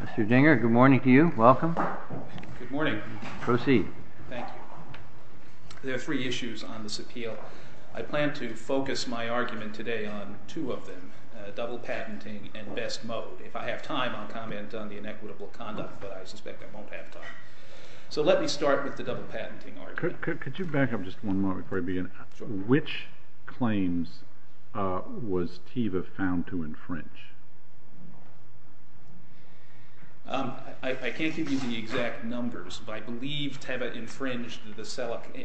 Mr. Ginger, good morning to you. Welcome. Good morning. Proceed. Thank you. There are three issues on this appeal. I plan to focus my argument today on two of them, double patenting and best mode. If I have time, I'll comment on the inequitable conduct, but I suspect I won't have time. So let me start with the double patenting argument. Could you back up just one moment before I begin? Which claims was Teva found to infringe? I can't give you the exact numbers, but I believe Teva infringed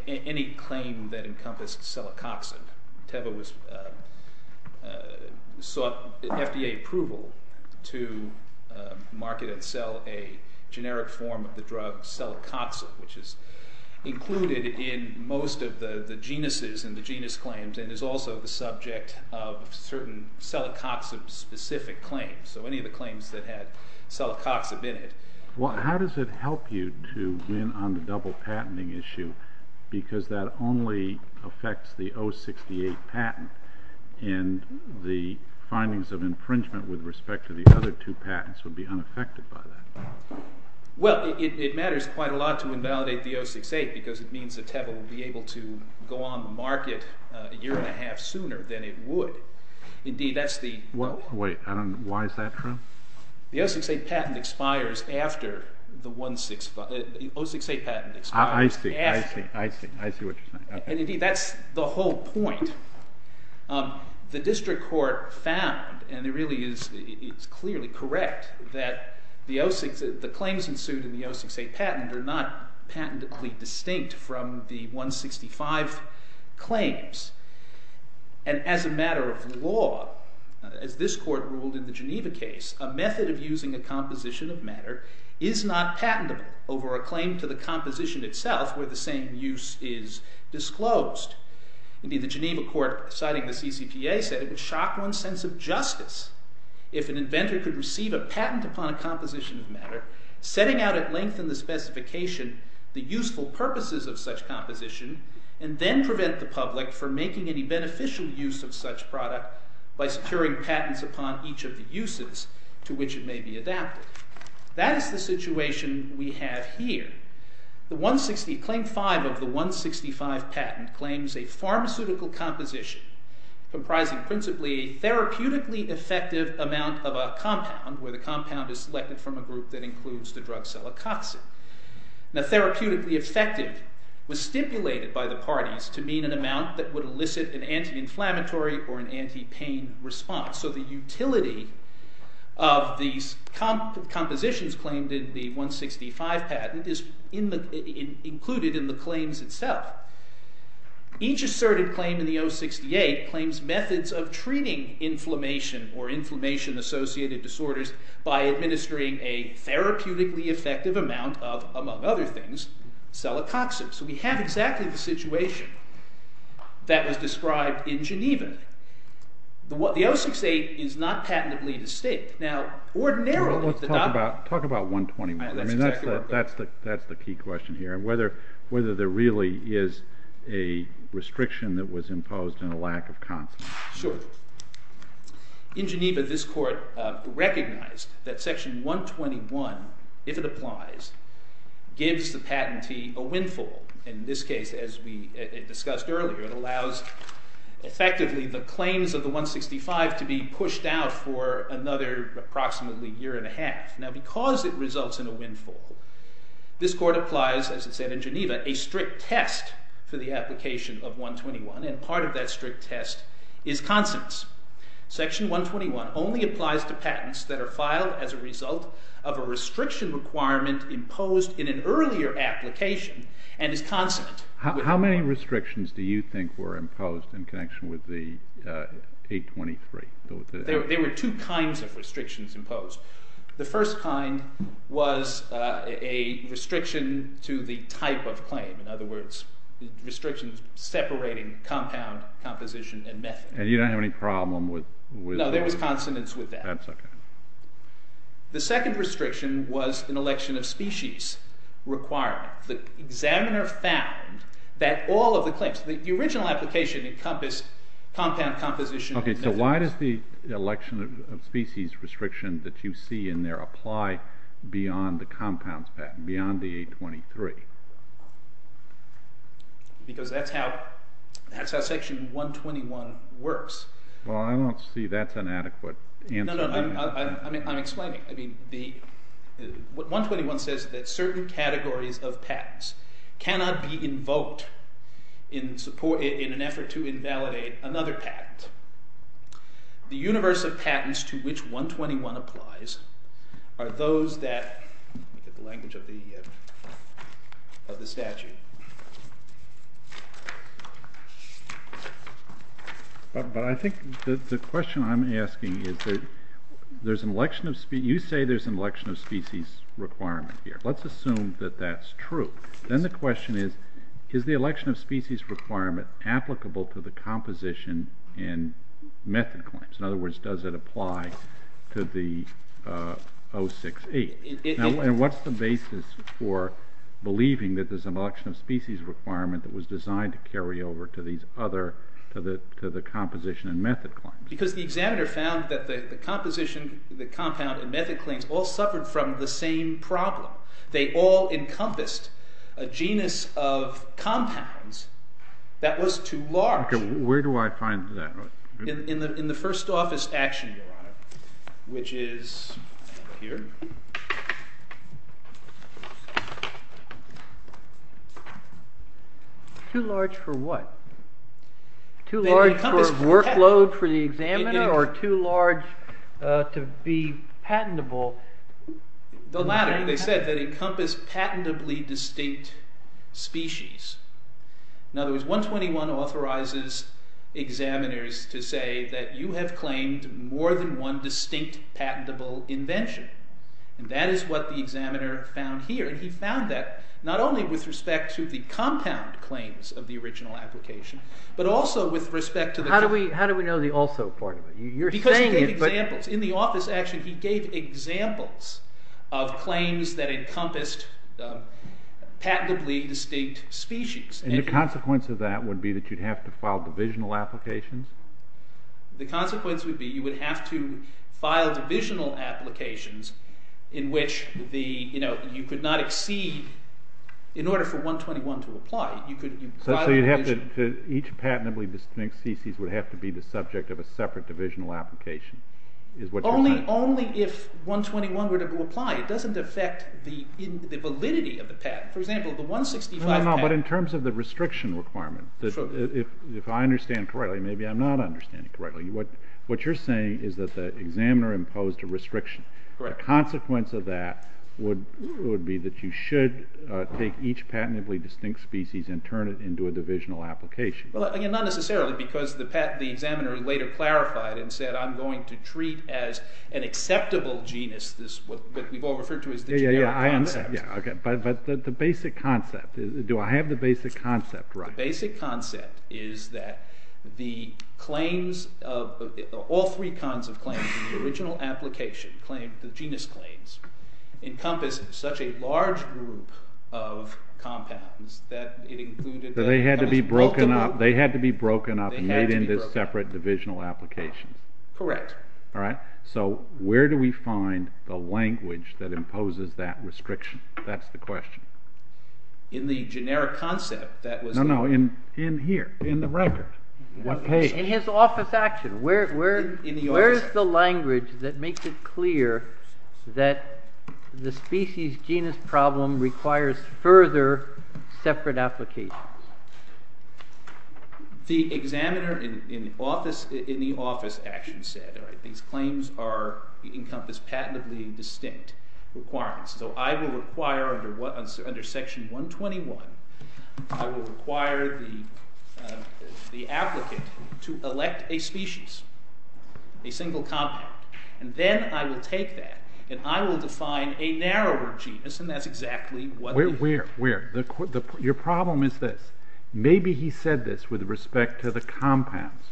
any claim that encompassed Celicoxib. Teva sought FDA approval to market and sell a generic form of the drug, Celicoxib, which is included in most of the genuses and the genus claims and is also the subject of certain Celicoxib-specific claims. So any of the claims that had Celicoxib in it. Well, how does it help you to win on the double patenting issue because that only affects the 068 patent and the findings of infringement with respect to the other two patents would be unaffected by that? Well, it matters quite a lot to invalidate the 068 because it means that Teva will be able to go on the market a year and a half sooner than it would. Wait, why is that true? The 068 patent expires after the 068 patent expires. I see what you're saying. And indeed, that's the whole point. The district court found, and it really is clearly correct, that the claims ensued in the 068 patent are not patentedly distinct from the 165 claims. And as a matter of law, as this court ruled in the Geneva case, a method of using a composition of matter is not patentable over a claim to the composition itself where the same use is disclosed. Indeed, the Geneva court, citing the CCPA, said it would shock one's sense of justice if an inventor could receive a patent upon a composition of matter, setting out at length in the specification the useful purposes of such composition, and then prevent the public from making any beneficial use of such product by securing patents upon each of the uses to which it may be adapted. That is the situation we have here. Claim 5 of the 165 patent claims a pharmaceutical composition comprising principally a therapeutically effective amount of a compound, where the compound is selected from a group that includes the drug cellococcin. Now, therapeutically effective was stipulated by the parties to mean an amount that would elicit an anti-inflammatory or an anti-pain response. So the utility of these compositions claimed in the 165 patent is included in the claims itself. Each asserted claim in the 068 claims methods of treating inflammation or inflammation-associated disorders by administering a therapeutically effective amount of, among other things, cellococcin. So we have exactly the situation that was described in Geneva. The 068 is not patently at stake. Now, ordinarily— Talk about 121. That's the key question here, whether there really is a restriction that was imposed and a lack of confidence. Sure. In Geneva, this Court recognized that section 121, if it applies, gives the patentee a windfall. In this case, as we discussed earlier, it allows effectively the claims of the 165 to be pushed out for another approximately year and a half. Now, because it results in a windfall, this Court applies, as it said in Geneva, a strict test for the application of 121, and part of that strict test is confidence. Section 121 only applies to patents that are filed as a result of a restriction requirement imposed in an earlier application and is consummate. How many restrictions do you think were imposed in connection with the 823? There were two kinds of restrictions imposed. The first kind was a restriction to the type of claim. In other words, restrictions separating compound, composition, and method. And you don't have any problem with— No, there was consonance with that. That's okay. The second restriction was an election of species requirement. The examiner found that all of the claims—the original application encompassed compound, composition, and method. Okay, so why does the election of species restriction that you see in there apply beyond the compounds patent, beyond the 823? Because that's how Section 121 works. Well, I don't see that's an adequate answer. No, no, I'm explaining. I mean, 121 says that certain categories of patents cannot be invoked in an effort to invalidate another patent. The universe of patents to which 121 applies are those that—let me get the language of the statute. But I think the question I'm asking is there's an election of—you say there's an election of species requirement here. Let's assume that that's true. Then the question is, is the election of species requirement applicable to the composition and method claims? In other words, does it apply to the 068? And what's the basis for believing that there's an election of species requirement that was designed to carry over to these other—to the composition and method claims? Because the examiner found that the composition, the compound, and method claims all suffered from the same problem. They all encompassed a genus of compounds that was too large. Okay, where do I find that? In the first office action, Your Honor, which is here. Too large for what? Too large for workload for the examiner or too large to be patentable? The latter. They said they encompassed patentably distinct species. In other words, 121 authorizes examiners to say that you have claimed more than one distinct patentable invention. And that is what the examiner found here. And he found that not only with respect to the compound claims of the original application, but also with respect to the— How do we know the also part of it? You're saying it, but— —of claims that encompassed patentably distinct species. And the consequence of that would be that you'd have to file divisional applications? The consequence would be you would have to file divisional applications in which you could not exceed—in order for 121 to apply, you could— So you'd have to—each patentably distinct species would have to be the subject of a separate divisional application, is what you're saying? Only if 121 were to apply. It doesn't affect the validity of the patent. For example, the 165 patent— No, but in terms of the restriction requirement, if I understand correctly—maybe I'm not understanding correctly—what you're saying is that the examiner imposed a restriction. Correct. The consequence of that would be that you should take each patentably distinct species and turn it into a divisional application. Well, again, not necessarily, because the examiner later clarified and said, I'm going to treat as an acceptable genus this—what we've all referred to as the general concept. Yeah, yeah, yeah, I understand. But the basic concept—do I have the basic concept right? The basic concept is that the claims of—all three kinds of claims in the original application—the genus claims—encompassed such a large group of compounds that it included— So they had to be broken up and made into separate divisional applications. Correct. Alright, so where do we find the language that imposes that restriction? That's the question. In the generic concept that was— No, no, in here, in the record. What page? In his office action. Where is the language that makes it clear that the species-genus problem requires further separate applications? The examiner in the office action said, these claims encompass patentably distinct requirements. So I will require, under section 121, I will require the applicant to elect a species, a single compound. And then I will take that, and I will define a narrower genus, and that's exactly what— Where? Your problem is this. Maybe he said this with respect to the compounds,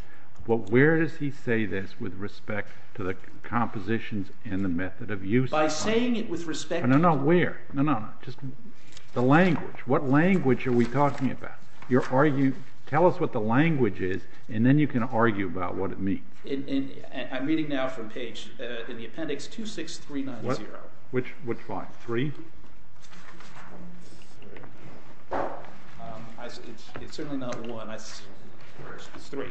but where does he say this with respect to the compositions and the method of use? By saying it with respect to— No, no, where? No, no, just the language. What language are we talking about? Tell us what the language is, and then you can argue about what it means. I'm reading now from page, in the appendix, 26390. Which line? 3? It's certainly not 1. It's 3.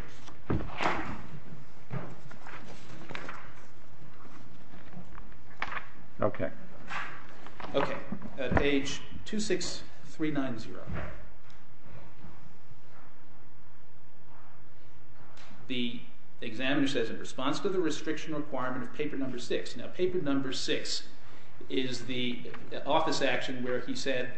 Page 26390. The examiner says, in response to the restriction requirement of paper number 6. Now, paper number 6 is the office action where he said,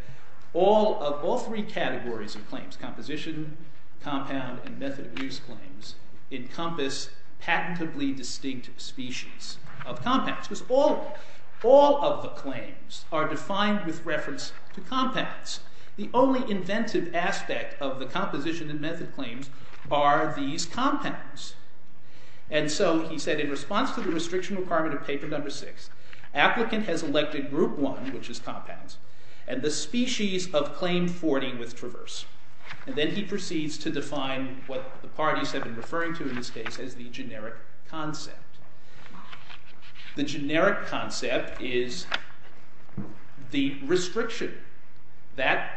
all three categories of claims—composition, compound, and method of use claims—encompass patentably distinct species of compounds. Because all of them, all of the claims, are defined with reference to compounds. The only inventive aspect of the composition and method claims are these compounds. And so he said, in response to the restriction requirement of paper number 6, applicant has elected group 1, which is compounds, and the species of claim 40 with traverse. And then he proceeds to define what the parties have been referring to in this case as the generic concept. The generic concept is the restriction that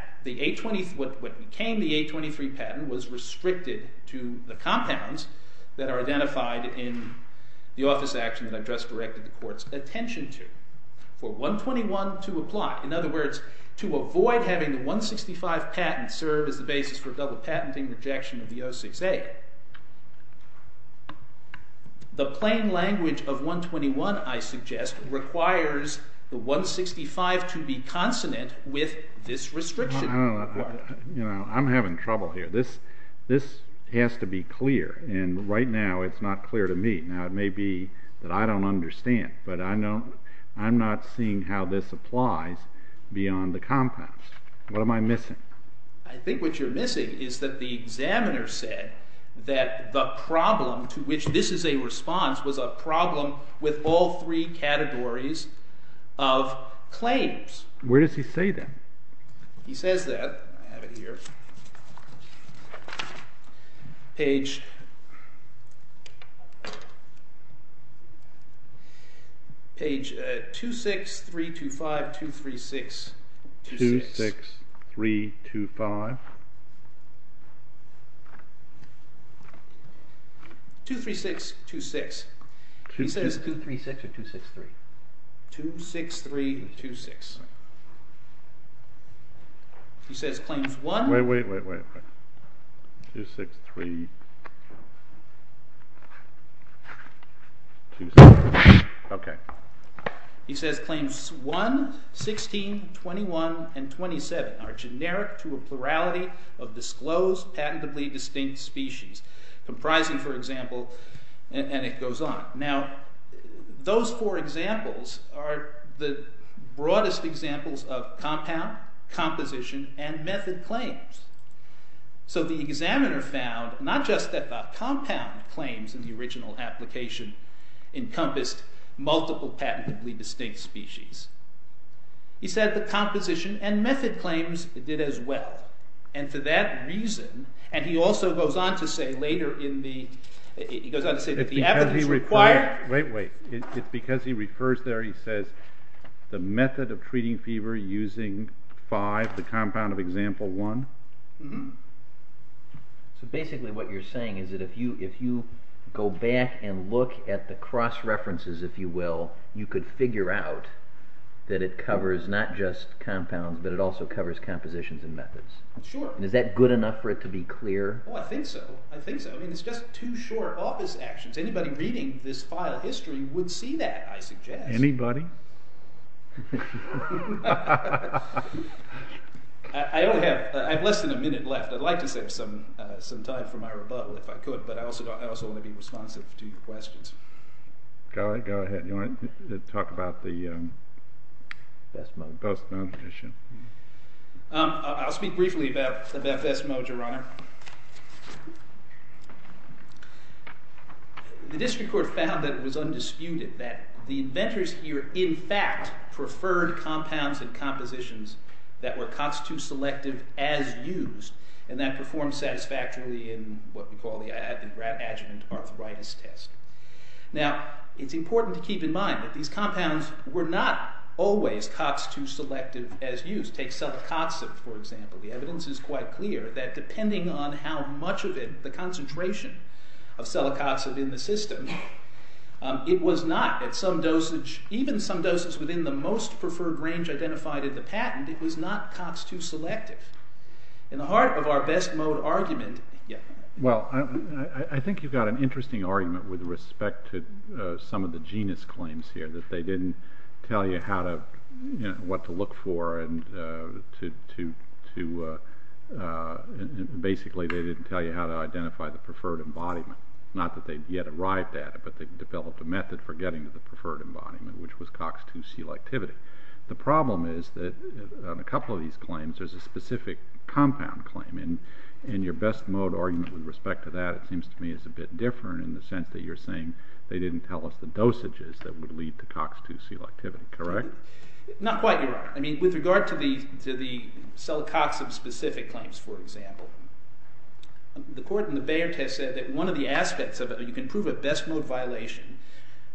what became the 823 patent was restricted to the compounds that are identified in the office action that I've just directed the court's attention to. For 121 to apply, in other words, to avoid having the 165 patent serve as the basis for double patenting rejection of the 06A. The plain language of 121, I suggest, requires the 165 to be consonant with this restriction. I'm having trouble here. This has to be clear, and right now it's not clear to me. Now, it may be that I don't understand, but I'm not seeing how this applies beyond the compounds. What am I missing? I think what you're missing is that the examiner said that the problem to which this is a response was a problem with all three categories of claims. Where does he say that? He says that. I have it here. Page 26325, 23626. 26325. 23626. He says 236 or 263? 26326. He says claims 1. Wait, wait, wait, wait. 26326. Okay. He says claims 1, 16, 21, and 27 are generic to a plurality of disclosed, patently distinct species, comprising, for example, and it goes on. Now, those four examples are the broadest examples of compound, composition, and method claims. So the examiner found not just that the compound claims in the original application encompassed multiple patently distinct species. He said the composition and method claims did as well. And to that reason, and he also goes on to say later in the, he goes on to say that the evidence required. Wait, wait. Because he refers there, he says the method of treating fever using 5, the compound of example 1? So basically what you're saying is that if you, if you go back and look at the cross-references, if you will, you could figure out that it covers not just compounds, but it also covers compositions and methods. Sure. And is that good enough for it to be clear? Oh, I think so. I think so. I mean, it's just too short office actions. Anybody reading this file history would see that, I suggest. Anybody? I only have, I have less than a minute left. I'd like to save some, some time for my rebuttal if I could, but I also, I also want to be responsive to your questions. Go ahead. Go ahead. You want to talk about the. Fesmo. I'll speak briefly about the Fesmo, Your Honor. The district court found that it was undisputed that the inventors here in fact preferred compounds and compositions that were COX-2 selective as used and that performed satisfactorily in what we call the adjuvant arthritis test. Now, it's important to keep in mind that these compounds were not always COX-2 selective as used. Take selicoxib, for example. The evidence is quite clear that depending on how much of it, the concentration of selicoxib in the system, it was not at some dosage, even some doses within the most preferred range identified in the patent, it was not COX-2 selective. In the heart of our best mode argument. Well, I think you've got an interesting argument with respect to some of the genus claims here that they didn't tell you how to, you know, what to look for and to, to, to basically they didn't tell you how to identify the preferred embodiment. Not that they'd yet arrived at it, but they developed a method for getting to the preferred embodiment, which was COX-2 selectivity. The problem is that on a couple of these claims, there's a specific compound claim and, and your best mode argument with respect to that, it seems to me is a bit different in the sense that you're saying they didn't tell us the dosages that would lead to COX-2 selectivity, correct? Not quite. I mean, with regard to the, to the selicoxib specific claims, for example. The court in the Bayard test said that one of the aspects of it, you can prove a best mode violation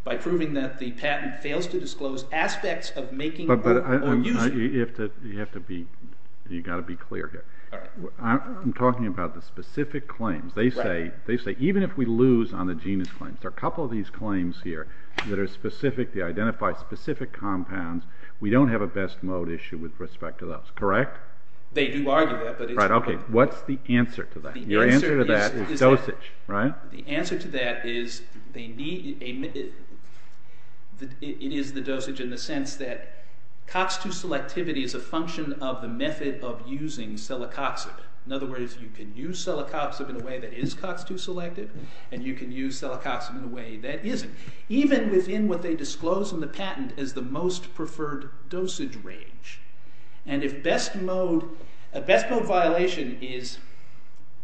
by proving that the patent fails to disclose aspects of making or using. You have to be, you've got to be clear here. I'm talking about the specific claims. They say, they say, even if we lose on the genus claims, there are a couple of these claims here that are specific, they identify specific compounds. We don't have a best mode issue with respect to those, correct? They do argue that, but it's. Right. Okay. What's the answer to that? Your answer to that is dosage, right? The answer to that is they need, it is the dosage in the sense that COX-2 selectivity is a function of the method of using selicoxib. In other words, you can use selicoxib in a way that is COX-2 selective and you can use selicoxib in a way that isn't. Even within what they disclose in the patent is the most preferred dosage range. And if best mode, a best mode violation is,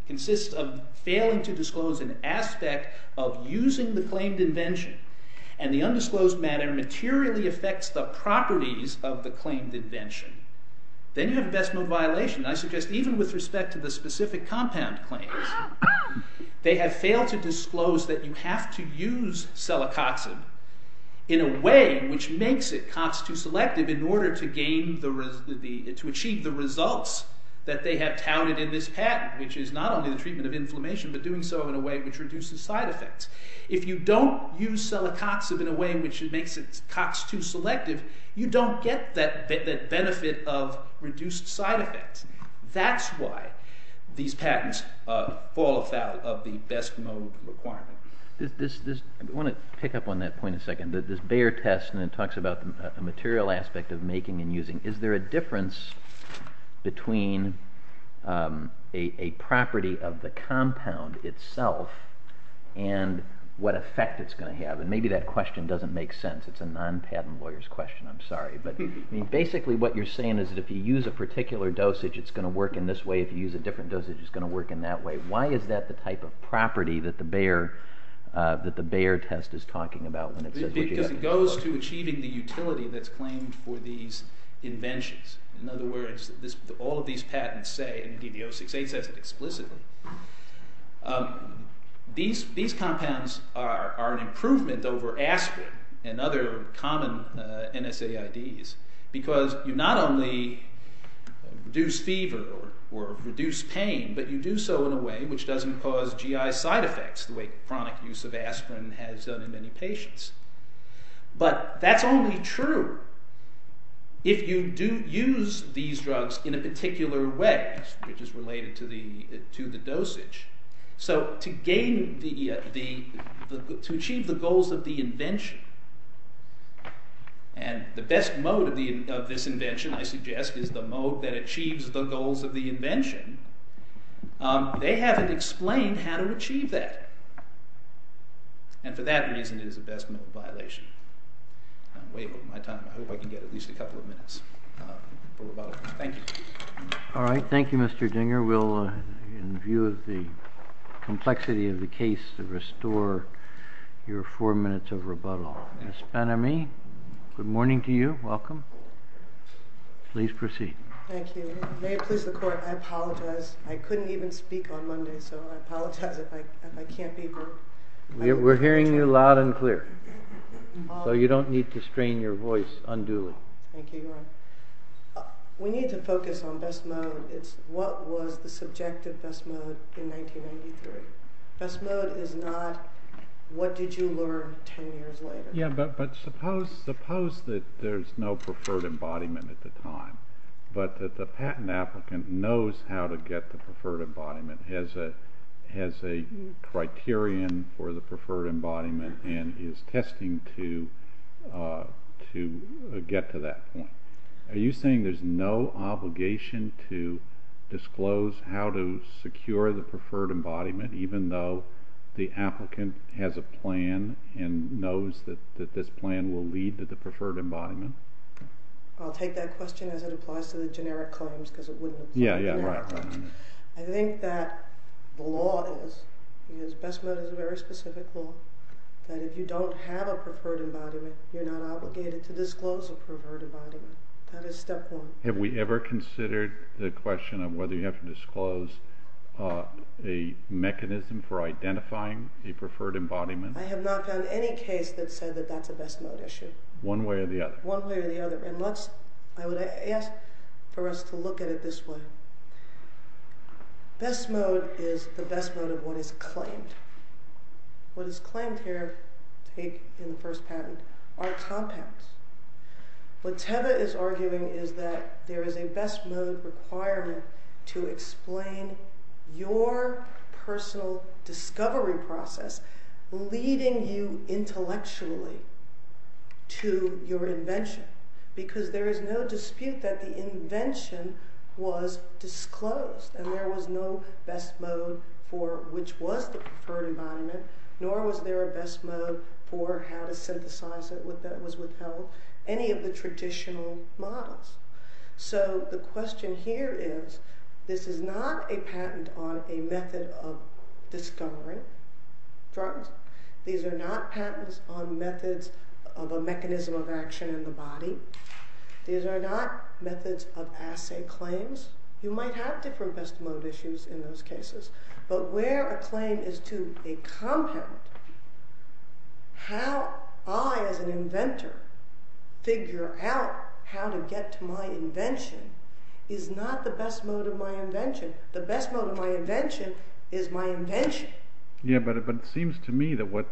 consists of failing to disclose an aspect of using the claimed invention and the undisclosed matter materially affects the properties of the claimed invention, then you have a best mode violation. I suggest even with respect to the specific compound claims, they have failed to disclose that you have to use selicoxib in a way which makes it COX-2 selective in order to gain the, to achieve the results that they have touted in this patent. Which is not only the treatment of inflammation, but doing so in a way which reduces side effects. If you don't use selicoxib in a way which makes it COX-2 selective, you don't get that benefit of reduced side effects. That's why these patents fall out of the best mode requirement. I want to pick up on that point a second. This Bayer test talks about the material aspect of making and using. Is there a difference between a property of the compound itself and what effect it's going to have? And maybe that question doesn't make sense. It's a non-patent lawyer's question, I'm sorry. But basically what you're saying is that if you use a particular dosage it's going to work in this way. If you use a different dosage it's going to work in that way. Why is that the type of property that the Bayer test is talking about? Because it goes to achieving the utility that's claimed for these inventions. In other words, all of these patents say, and DBO-68 says it explicitly, these compounds are an improvement over aspirin and other common NSAIDs. Because you not only reduce fever or reduce pain, but you do so in a way which doesn't cause GI side effects the way chronic use of aspirin has done in many patients. But that's only true if you do use these drugs in a particular way, which is related to the dosage. So to achieve the goals of the invention, and the best mode of this invention, I suggest, is the mode that achieves the goals of the invention. They haven't explained how to achieve that. And for that reason it is a best mode violation. I'm way over my time. I hope I can get at least a couple of minutes. Thank you. All right. Thank you, Mr. Dinger. We'll, in view of the complexity of the case, restore your four minutes of rebuttal. Ms. Ben-Ami, good morning to you. Welcome. Please proceed. Thank you. May it please the Court, I apologize. I couldn't even speak on Monday, so I apologize if I can't be here. We're hearing you loud and clear. Thank you, Your Honor. We need to focus on best mode. It's what was the subjective best mode in 1993. Best mode is not what did you learn ten years later. Yeah, but suppose that there's no preferred embodiment at the time, but that the patent applicant knows how to get the preferred embodiment, has a criterion for the preferred embodiment, and is testing to get to that point. Are you saying there's no obligation to disclose how to secure the preferred embodiment even though the applicant has a plan and knows that this plan will lead to the preferred embodiment? I'll take that question as it applies to the generic claims because it wouldn't apply to the generic claims. I think that the law is, best mode is a very specific law, that if you don't have a preferred embodiment, you're not obligated to disclose a preferred embodiment. That is step one. Have we ever considered the question of whether you have to disclose a mechanism for identifying a preferred embodiment? I have not found any case that said that that's a best mode issue. One way or the other? One way or the other. I would ask for us to look at it this way. Best mode is the best mode of what is claimed. What is claimed here, in the first patent, are compounds. What Teva is arguing is that there is a best mode requirement to explain your personal discovery process leading you intellectually to your invention because there is no dispute that the invention was disclosed and there was no best mode for which was the preferred embodiment nor was there a best mode for how to synthesize it that was withheld. Any of the traditional models. The question here is, this is not a patent on a method of discovering drugs. These are not patents on methods of a mechanism of action in the body. These are not methods of assay claims. You might have different best mode issues in those cases. But where a claim is to a compound, how I, as an inventor, figure out how to get to my invention is not the best mode of my invention. The best mode of my invention is my invention. Yeah, but it seems to me that what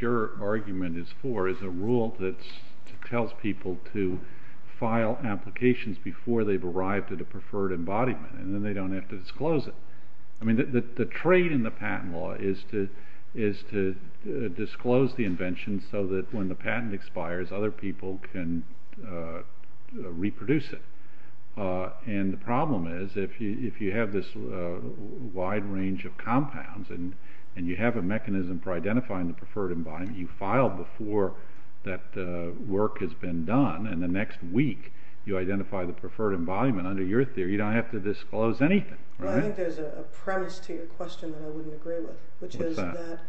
your argument is for is a rule that tells people to file applications before they've arrived at a preferred embodiment and then they don't have to disclose it. I mean, the trade in the patent law is to disclose the invention so that when the patent expires, other people can reproduce it. And the problem is, if you have this wide range of compounds and you have a mechanism for identifying the preferred embodiment, you file before that work has been done and the next week you identify the preferred embodiment. Under your theory, you don't have to disclose anything, right? Well, I think there's a premise to your question that I wouldn't agree with, which is that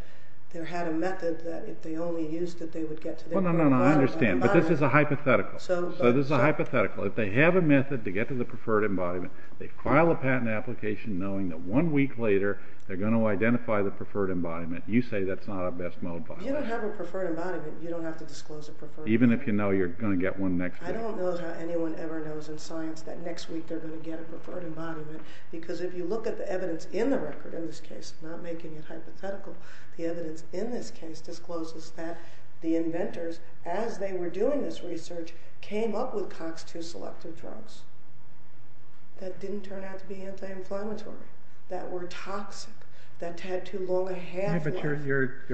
there had a method that if they only used it, they would get to the preferred embodiment. Well, no, no, I understand, but this is a hypothetical. So this is a hypothetical. If they have a method to get to the preferred embodiment, they file a patent application knowing that one week later they're going to identify the preferred embodiment. You say that's not a best mode. If you don't have a preferred embodiment, you don't have to disclose a preferred embodiment. Even if you know you're going to get one next week. I don't know how anyone ever knows in science that next week they're going to get a preferred embodiment because if you look at the evidence in the record in this case, I'm not making it hypothetical, the evidence in this case discloses that the inventors, as they were doing this research, came up with COX-2-selective drugs that didn't turn out to be anti-inflammatory, that were toxic, that had too long a half-life. But you're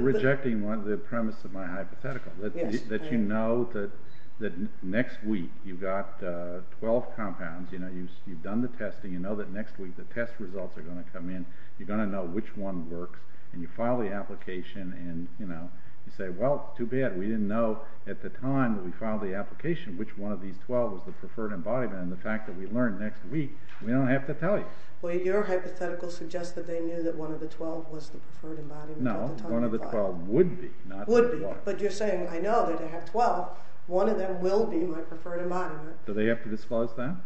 rejecting the premise of my hypothetical, that you know that next week you've got 12 compounds, you've done the testing, you know that next week the test results are going to come in, you're going to know which one works, and you file the application and say, well, too bad, we didn't know at the time that we filed the application which one of these 12 was the preferred embodiment. And the fact that we learned next week, we don't have to tell you. Well, your hypothetical suggests that they knew that one of the 12 was the preferred embodiment. No, one of the 12 would be. But you're saying, I know that I have 12, one of them will be my preferred embodiment. Do they have to disclose that?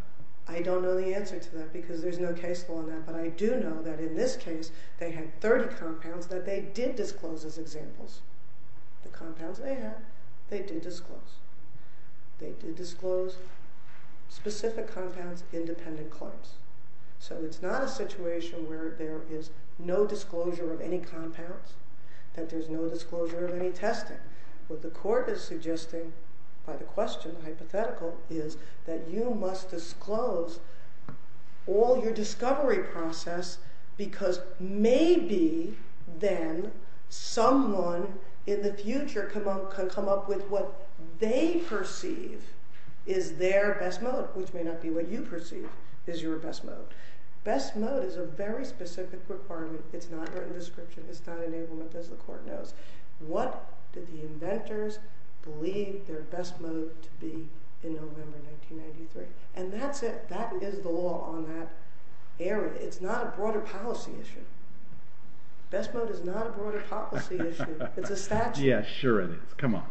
I don't know the answer to that, because there's no case law on that, but I do know that in this case they had 30 compounds that they did disclose as examples. The compounds they had, they did disclose. They did disclose specific compounds, independent claims. So it's not a situation where there is no disclosure of any compounds, that there's no disclosure of any testing. What the court is suggesting by the question, hypothetical, is that you must disclose all your discovery process because maybe then someone in the future can come up with what they perceive is their best mode, which may not be what you perceive is your best mode. Best mode is a very specific requirement. It's not written description. It's not enablement, as the court knows. What did the inventors believe their best mode to be in November 1993? And that's it. That is the law on that area. It's not a broader policy issue. Best mode is not a broader policy issue. It's a statute. Yeah, sure it is. Come on.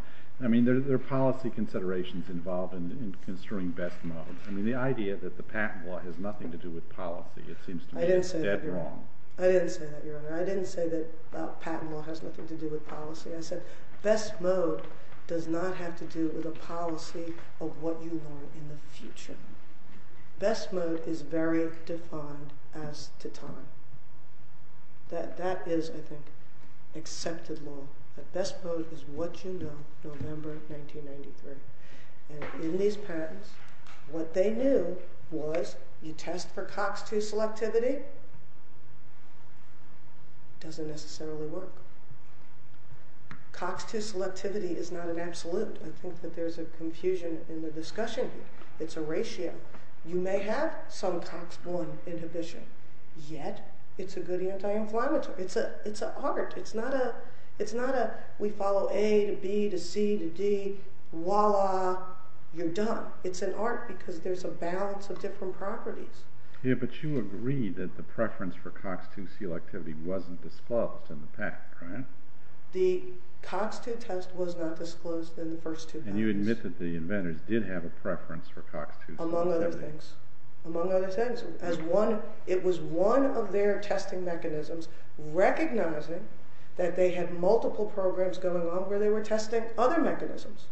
I mean, there are policy considerations involved in construing best mode. I mean, the idea that the patent law has nothing to do with policy, it seems to me is dead wrong. I didn't say that, Your Honor. I didn't say that patent law has nothing to do with policy. I said best mode does not have to do with a policy of what you want in the future. Best mode is very defined as to time. That is, I think, accepted law, that best mode is what you know, November 1993. And in these patents, what they knew was you test for COX-2 selectivity, it doesn't necessarily work. COX-2 selectivity is not an absolute. I think that there's a confusion in the discussion here. It's a ratio. You may have some COX-1 inhibition, yet it's a good anti-inflammatory. It's an art. It's not a we follow A to B to C to D, voila, you're done. It's an art because there's a balance of different properties. Yeah, but you agreed that the preference for COX-2 selectivity wasn't disclosed in the patent, right? The COX-2 test was not disclosed in the first two patents. And you admit that the inventors did have a preference for COX-2 selectivity. Among other things. Among other things. It was one of their testing mechanisms recognizing that they had multiple programs going on where they were testing other mechanisms.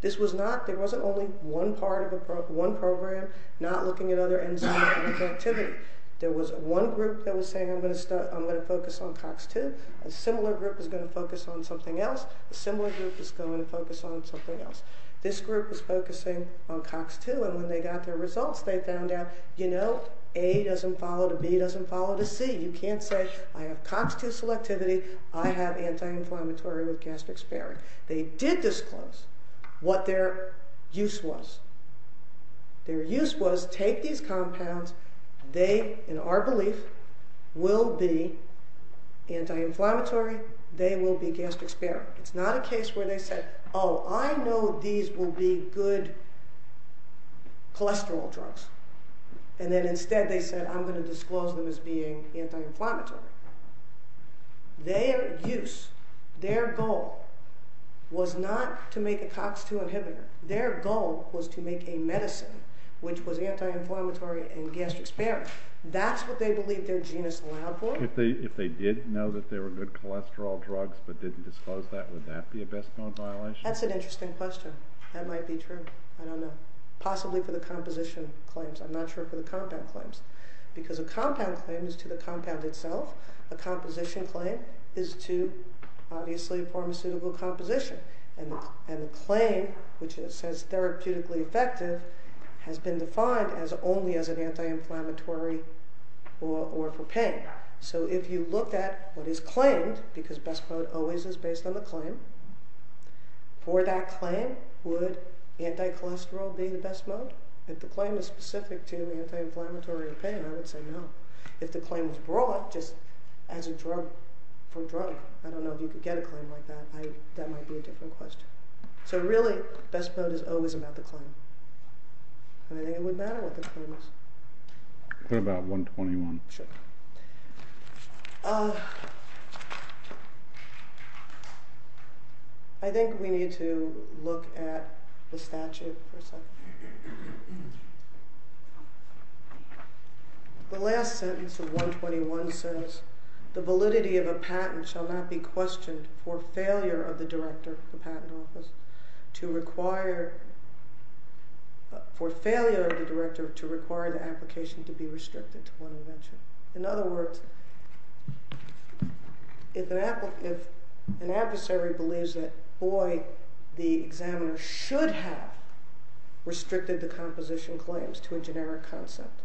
This was not, there wasn't only one part of a program, one program not looking at other enzymes. There was one group that was saying, I'm going to focus on COX-2. A similar group is going to focus on something else. A similar group is going to focus on something else. This group was focusing on COX-2, and when they got their results, they found out, you know, A doesn't follow to B doesn't follow to C. You can't say, I have COX-2 selectivity. I have anti-inflammatory with gastric sparing. They did disclose what their use was. Their use was, take these compounds. They, in our belief, will be anti-inflammatory. They will be gastric sparing. It's not a case where they said, oh, I know these will be good cholesterol drugs, and then instead they said, I'm going to disclose them as being anti-inflammatory. Their use, their goal, was not to make a COX-2 inhibitor. Their goal was to make a medicine which was anti-inflammatory and gastric sparing. That's what they believed their genus allowed for. If they did know that they were good cholesterol drugs but didn't disclose that, would that be a best known violation? That's an interesting question. That might be true. I don't know. Possibly for the composition claims. I'm not sure for the compound claims. Because a compound claim is to the compound itself. A composition claim is to, obviously, a pharmaceutical composition. And a claim, which says therapeutically effective, has been defined as only as an anti-inflammatory or for pain. So if you looked at what is claimed, because best mode always is based on the claim. For that claim, would anti-cholesterol be the best mode? If the claim is specific to the anti-inflammatory or pain, I would say no. If the claim was brought just as a drug for drug, I don't know if you could get a claim like that. That might be a different question. So really, best mode is always about the claim. And I think it would matter what the claim is. Put about 121. Sure. I think we need to look at the statute for a second. The last sentence of 121 says, the validity of a patent shall not be questioned for failure of the director of the patent office to require the application to be restricted to one invention. In other words, if an adversary believes that, boy, the examiner should have restricted the composition claims to a generic concept,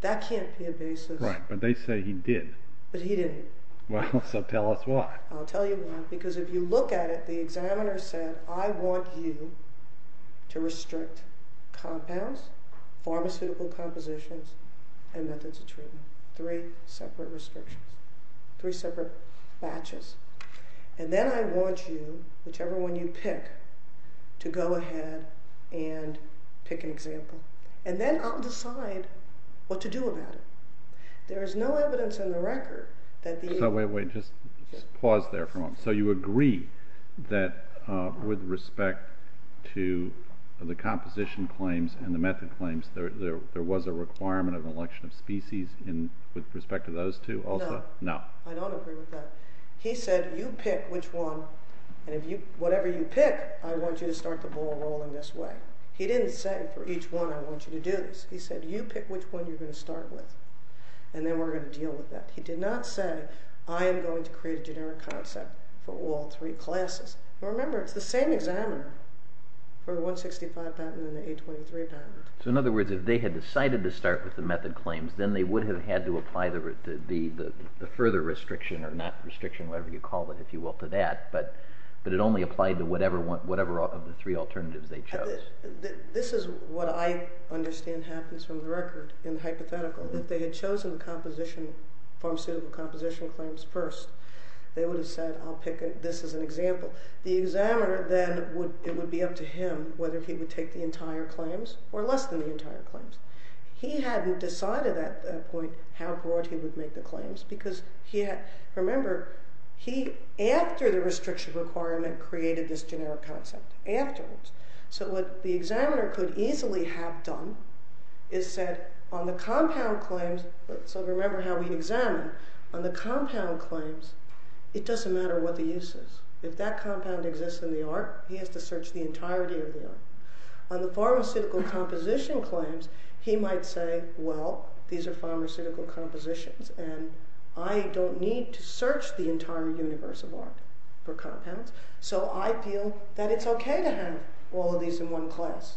that can't be a basis. Right. But they say he did. But he didn't. Well, so tell us why. I'll tell you why. Because if you look at it, the examiner said, I want you to restrict compounds, pharmaceutical compositions, and methods of treatment. Three separate restrictions. Three separate batches. And then I want you, whichever one you pick, to go ahead and pick an example. And then I'll decide what to do about it. There is no evidence in the record that the other way. Just pause there for a moment. So you agree that with respect to the composition claims and the method claims, there was a requirement of an election of species with respect to those two also? No. I don't agree with that. He said, you pick which one. And whatever you pick, I want you to start the ball rolling this way. He didn't say, for each one, I want you to do this. He said, you pick which one you're going to start with. And then we're going to deal with that. He did not say, I am going to create a generic concept for all three classes. Remember, it's the same examiner for the 165 patent and the 823 patent. So in other words, if they had decided to start with the method claims, then they would have had to apply the further restriction, or not restriction, whatever you call it, if you will, to that. But it only applied to whatever of the three alternatives they chose. This is what I understand happens from the record in the hypothetical. If they had chosen pharmaceutical composition claims first, they would have said, I'll pick this as an example. The examiner then, it would be up to him whether he would take the entire claims or less than the entire claims. He hadn't decided at that point how broad he would make the claims, because remember, he, after the restriction requirement, created this generic concept afterwards. So what the examiner could easily have done is said, on the compound claims, so remember how we examine, on the compound claims, it doesn't matter what the use is. If that compound exists in the art, he has to search the entirety of the art. On the pharmaceutical composition claims, he might say, well, these are pharmaceutical compositions, and I don't need to search the entire universe of art for compounds, so I feel that it's okay to have all of these in one class.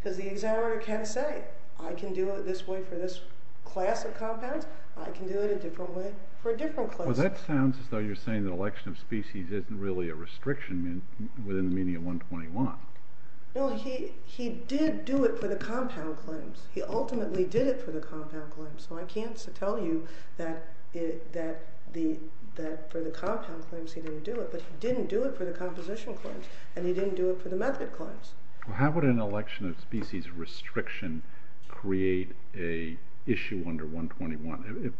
Because the examiner can say, I can do it this way for this class of compounds, I can do it a different way for a different class. It isn't really a restriction within the meaning of 121. No, he did do it for the compound claims. He ultimately did it for the compound claims, so I can't tell you that for the compound claims he didn't do it, but he didn't do it for the composition claims, and he didn't do it for the method claims. How would an election of species restriction create a issue under 121?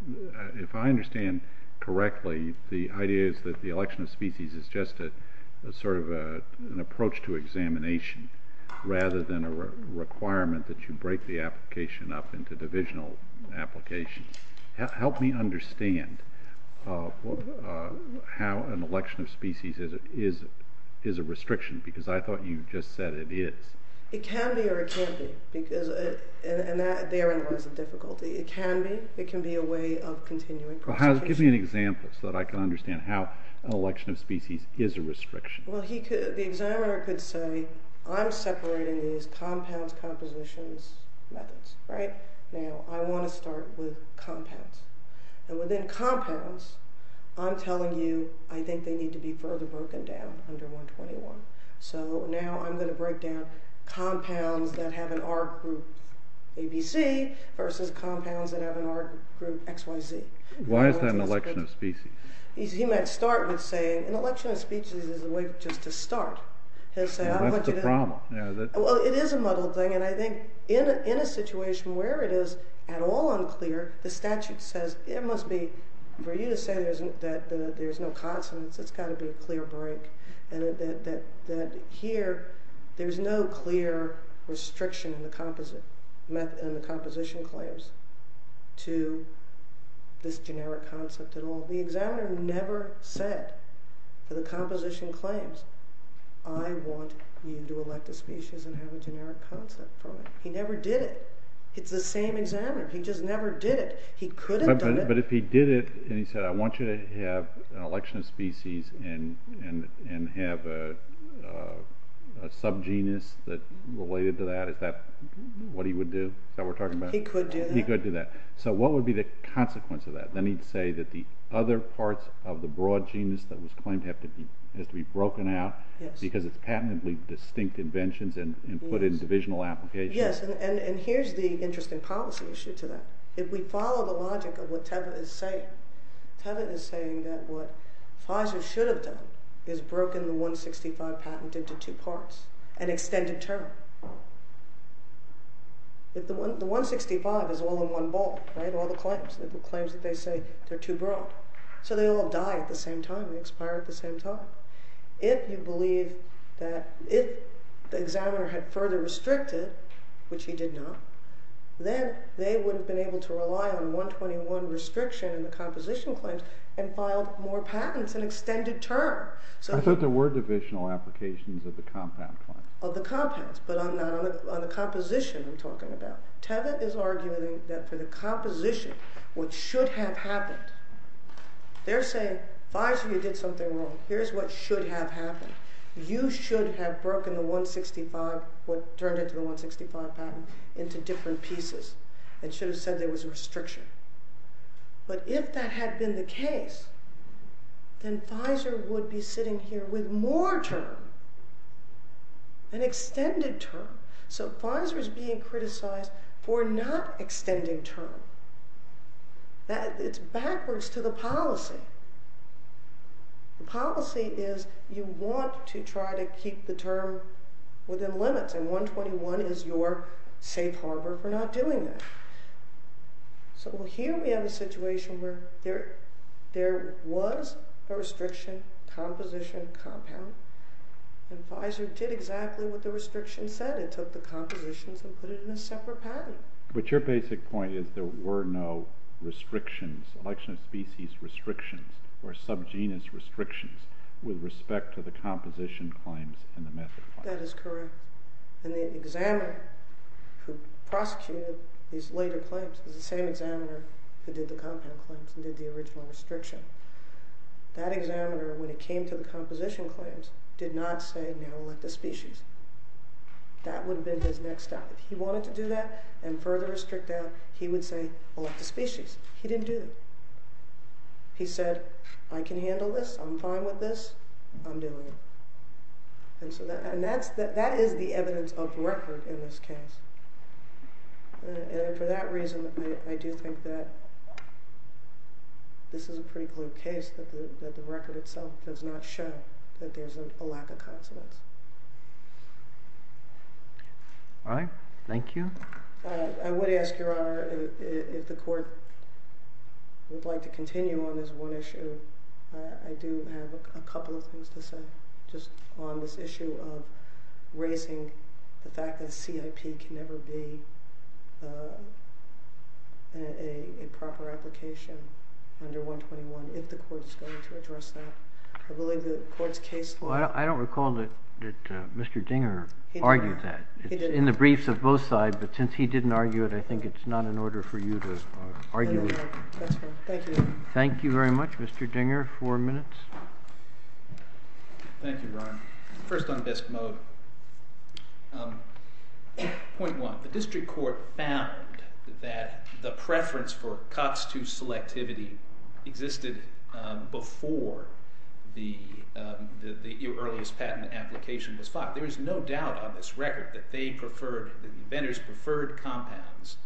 If I understand correctly, the idea is that the election of species is just sort of an approach to examination, rather than a requirement that you break the application up into divisional applications. Help me understand how an election of species is a restriction, because I thought you just said it is. It can be or it can't be, and therein lies the difficulty. It can be, it can be a way of continuing. Give me an example so that I can understand how an election of species is a restriction. The examiner could say, I'm separating these compounds, compositions, methods. Now, I want to start with compounds. And within compounds, I'm telling you, I think they need to be further broken down under 121. So now I'm going to break down compounds that have an R group, A, B, C, versus compounds that have an R group, X, Y, Z. Why is that an election of species? He might start with saying an election of species is a way just to start. That's the problem. Well, it is a muddled thing, and I think in a situation where it is at all unclear, the statute says it must be, for you to say that there's no consonants, it's got to be a clear break, that here there's no clear restriction in the composition claims to this generic concept at all. The examiner never said for the composition claims, I want you to elect a species and have a generic concept on it. He never did it. It's the same examiner. He just never did it. He could have done it. But if he did it and he said, I want you to have an election of species and have a subgenus related to that, is that what he would do, what we're talking about? He could do that. He could do that. So what would be the consequence of that? Then he'd say that the other parts of the broad genus that was claimed has to be broken out because it's patently distinct inventions and put in divisional applications. Yes, and here's the interesting policy issue to that. If we follow the logic of what Tevin is saying, Tevin is saying that what Pfizer should have done is broken the 165 patent into two parts, an extended term. The 165 is all in one ball, all the claims. The claims that they say they're too broad. So they all die at the same time. They expire at the same time. If the examiner had further restricted, which he did not, then they would have been able to rely on 121 restriction in the composition claims and filed more patents in extended term. I thought there were divisional applications of the compound claims. Of the compounds, but not on the composition we're talking about. Tevin is arguing that for the composition, what should have happened, they're saying Pfizer, you did something wrong. Here's what should have happened. You should have broken the 165, what turned into the 165 patent, into different pieces and should have said there was a restriction. But if that had been the case, then Pfizer would be sitting here with more term, an extended term. So Pfizer is being criticized for not extending term. It's backwards to the policy. The policy is you want to try to keep the term within limits, and 121 is your safe harbor for not doing that. So here we have a situation where there was a restriction, composition, compound, and Pfizer did exactly what the restriction said. It took the compositions and put it in a separate patent. But your basic point is there were no restrictions, selection of species restrictions or subgenus restrictions with respect to the composition claims and the method claims. That is correct. And the examiner who prosecuted these later claims is the same examiner who did the compound claims and did the original restriction. That examiner, when it came to the composition claims, did not say now elect the species. That would have been his next step. If he wanted to do that and further restrict them, he would say elect the species. He didn't do that. He said, I can handle this. I'm fine with this. I'm doing it. And that is the evidence of record in this case. And for that reason, I do think that this is a pretty clear case that the record itself does not show that there's a lack of confidence. All right. Thank you. I would ask, Your Honor, if the court would like to continue on this one issue. I do have a couple of things to say just on this issue of raising the fact that CIP can never be a proper application under 121 if the court is going to address that. I believe the court's case law. I don't recall that Mr. Dinger argued that. He did not. He argued it on both sides, but since he didn't argue it, I think it's not in order for you to argue it. That's fine. Thank you. Thank you very much, Mr. Dinger. Four minutes. Thank you, Ron. First on BISC mode, point one, the district court existed before the earliest patent application was filed. There is no doubt on this record that they preferred, that the inventors preferred compounds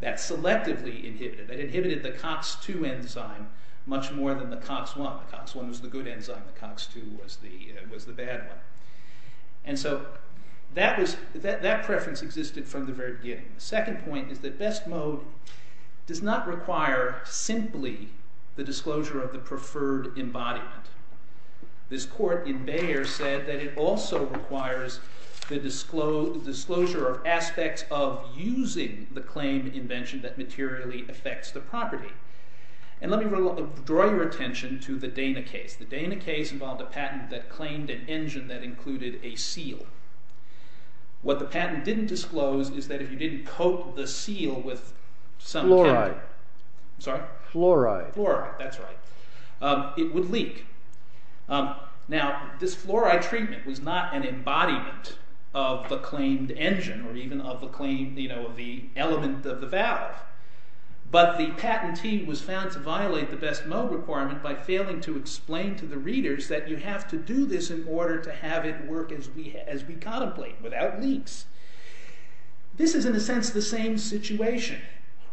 that selectively inhibited, that inhibited the COX-2 enzyme much more than the COX-1. The COX-1 was the good enzyme. The COX-2 was the bad one. And so that preference existed from the very beginning. The second point is that BISC mode does not require simply the disclosure of the preferred embodiment. This court in Bayer said that it also requires the disclosure of aspects of using the claimed invention that materially affects the property. And let me draw your attention to the Dana case. The Dana case involved a patent that claimed an engine that included a seal. What the patent didn't disclose is that if you didn't coat the seal with some kind of- Fluoride. Sorry? Fluoride. Fluoride, that's right. It would leak. Now, this fluoride treatment was not an embodiment of the claimed engine or even of the claimed, you know, the element of the valve. But the patent team was found to violate the BISC mode requirement by failing to explain to the readers that you have to do this in order to have it work as we contemplate, without leaks. This is, in a sense, the same situation.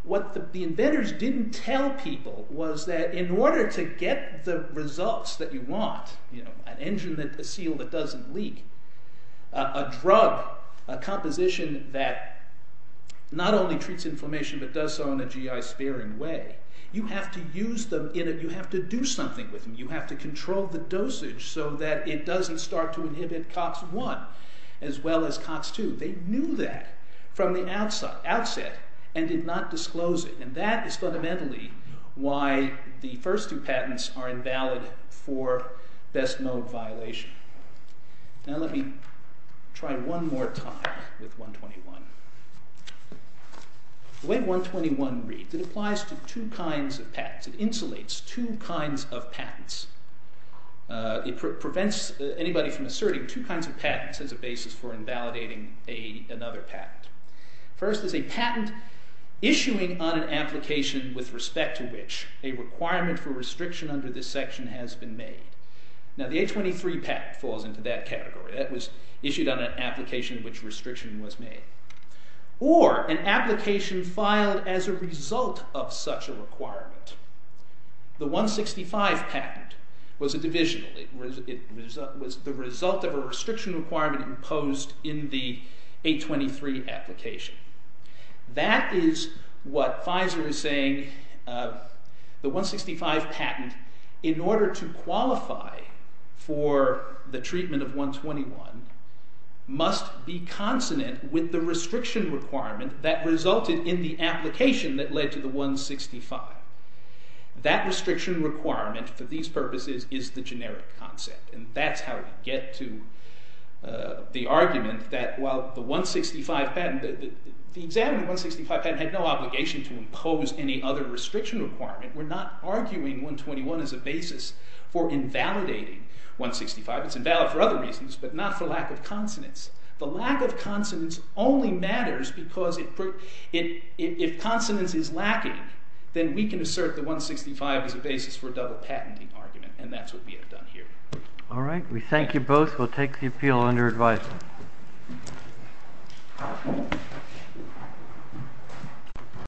What the inventors didn't tell people was that in order to get the results that you want, you know, an engine that- a seal that doesn't leak, a drug, a composition that not only treats inflammation but does so in a GI-sparing way, you have to use them in a- you have to do something with them. You have to control the dosage so that it doesn't start to inhibit COX-1 as well as COX-2. They knew that from the outset and did not disclose it. And that is fundamentally why the first two patents are invalid for BISC mode violation. Now let me try one more time with 121. The way 121 reads, it applies to two kinds of patents. It insulates two kinds of patents. It prevents anybody from asserting two kinds of patents as a basis for invalidating another patent. First is a patent issuing on an application with respect to which a requirement for restriction under this section has been made. Now the 823 patent falls into that category. That was issued on an application in which restriction was made. Or an application filed as a result of such a requirement. The 165 patent was a divisional. It was the result of a restriction requirement imposed in the 823 application. That is what Pfizer is saying. The 165 patent, in order to qualify for the treatment of 121, must be consonant with the restriction requirement that resulted in the application that led to the 165. That restriction requirement, for these purposes, is the generic concept. And that's how we get to the argument that while the 165 patent, the examined 165 patent had no obligation to impose any other restriction requirement. We're not arguing 121 as a basis for invalidating 165. It's invalid for other reasons, but not for lack of consonants. The lack of consonants only matters because if consonants is lacking, then we can assert the 165 as a basis for a double patenting argument. And that's what we have done here. All right. We thank you both. We'll take the appeal under advice.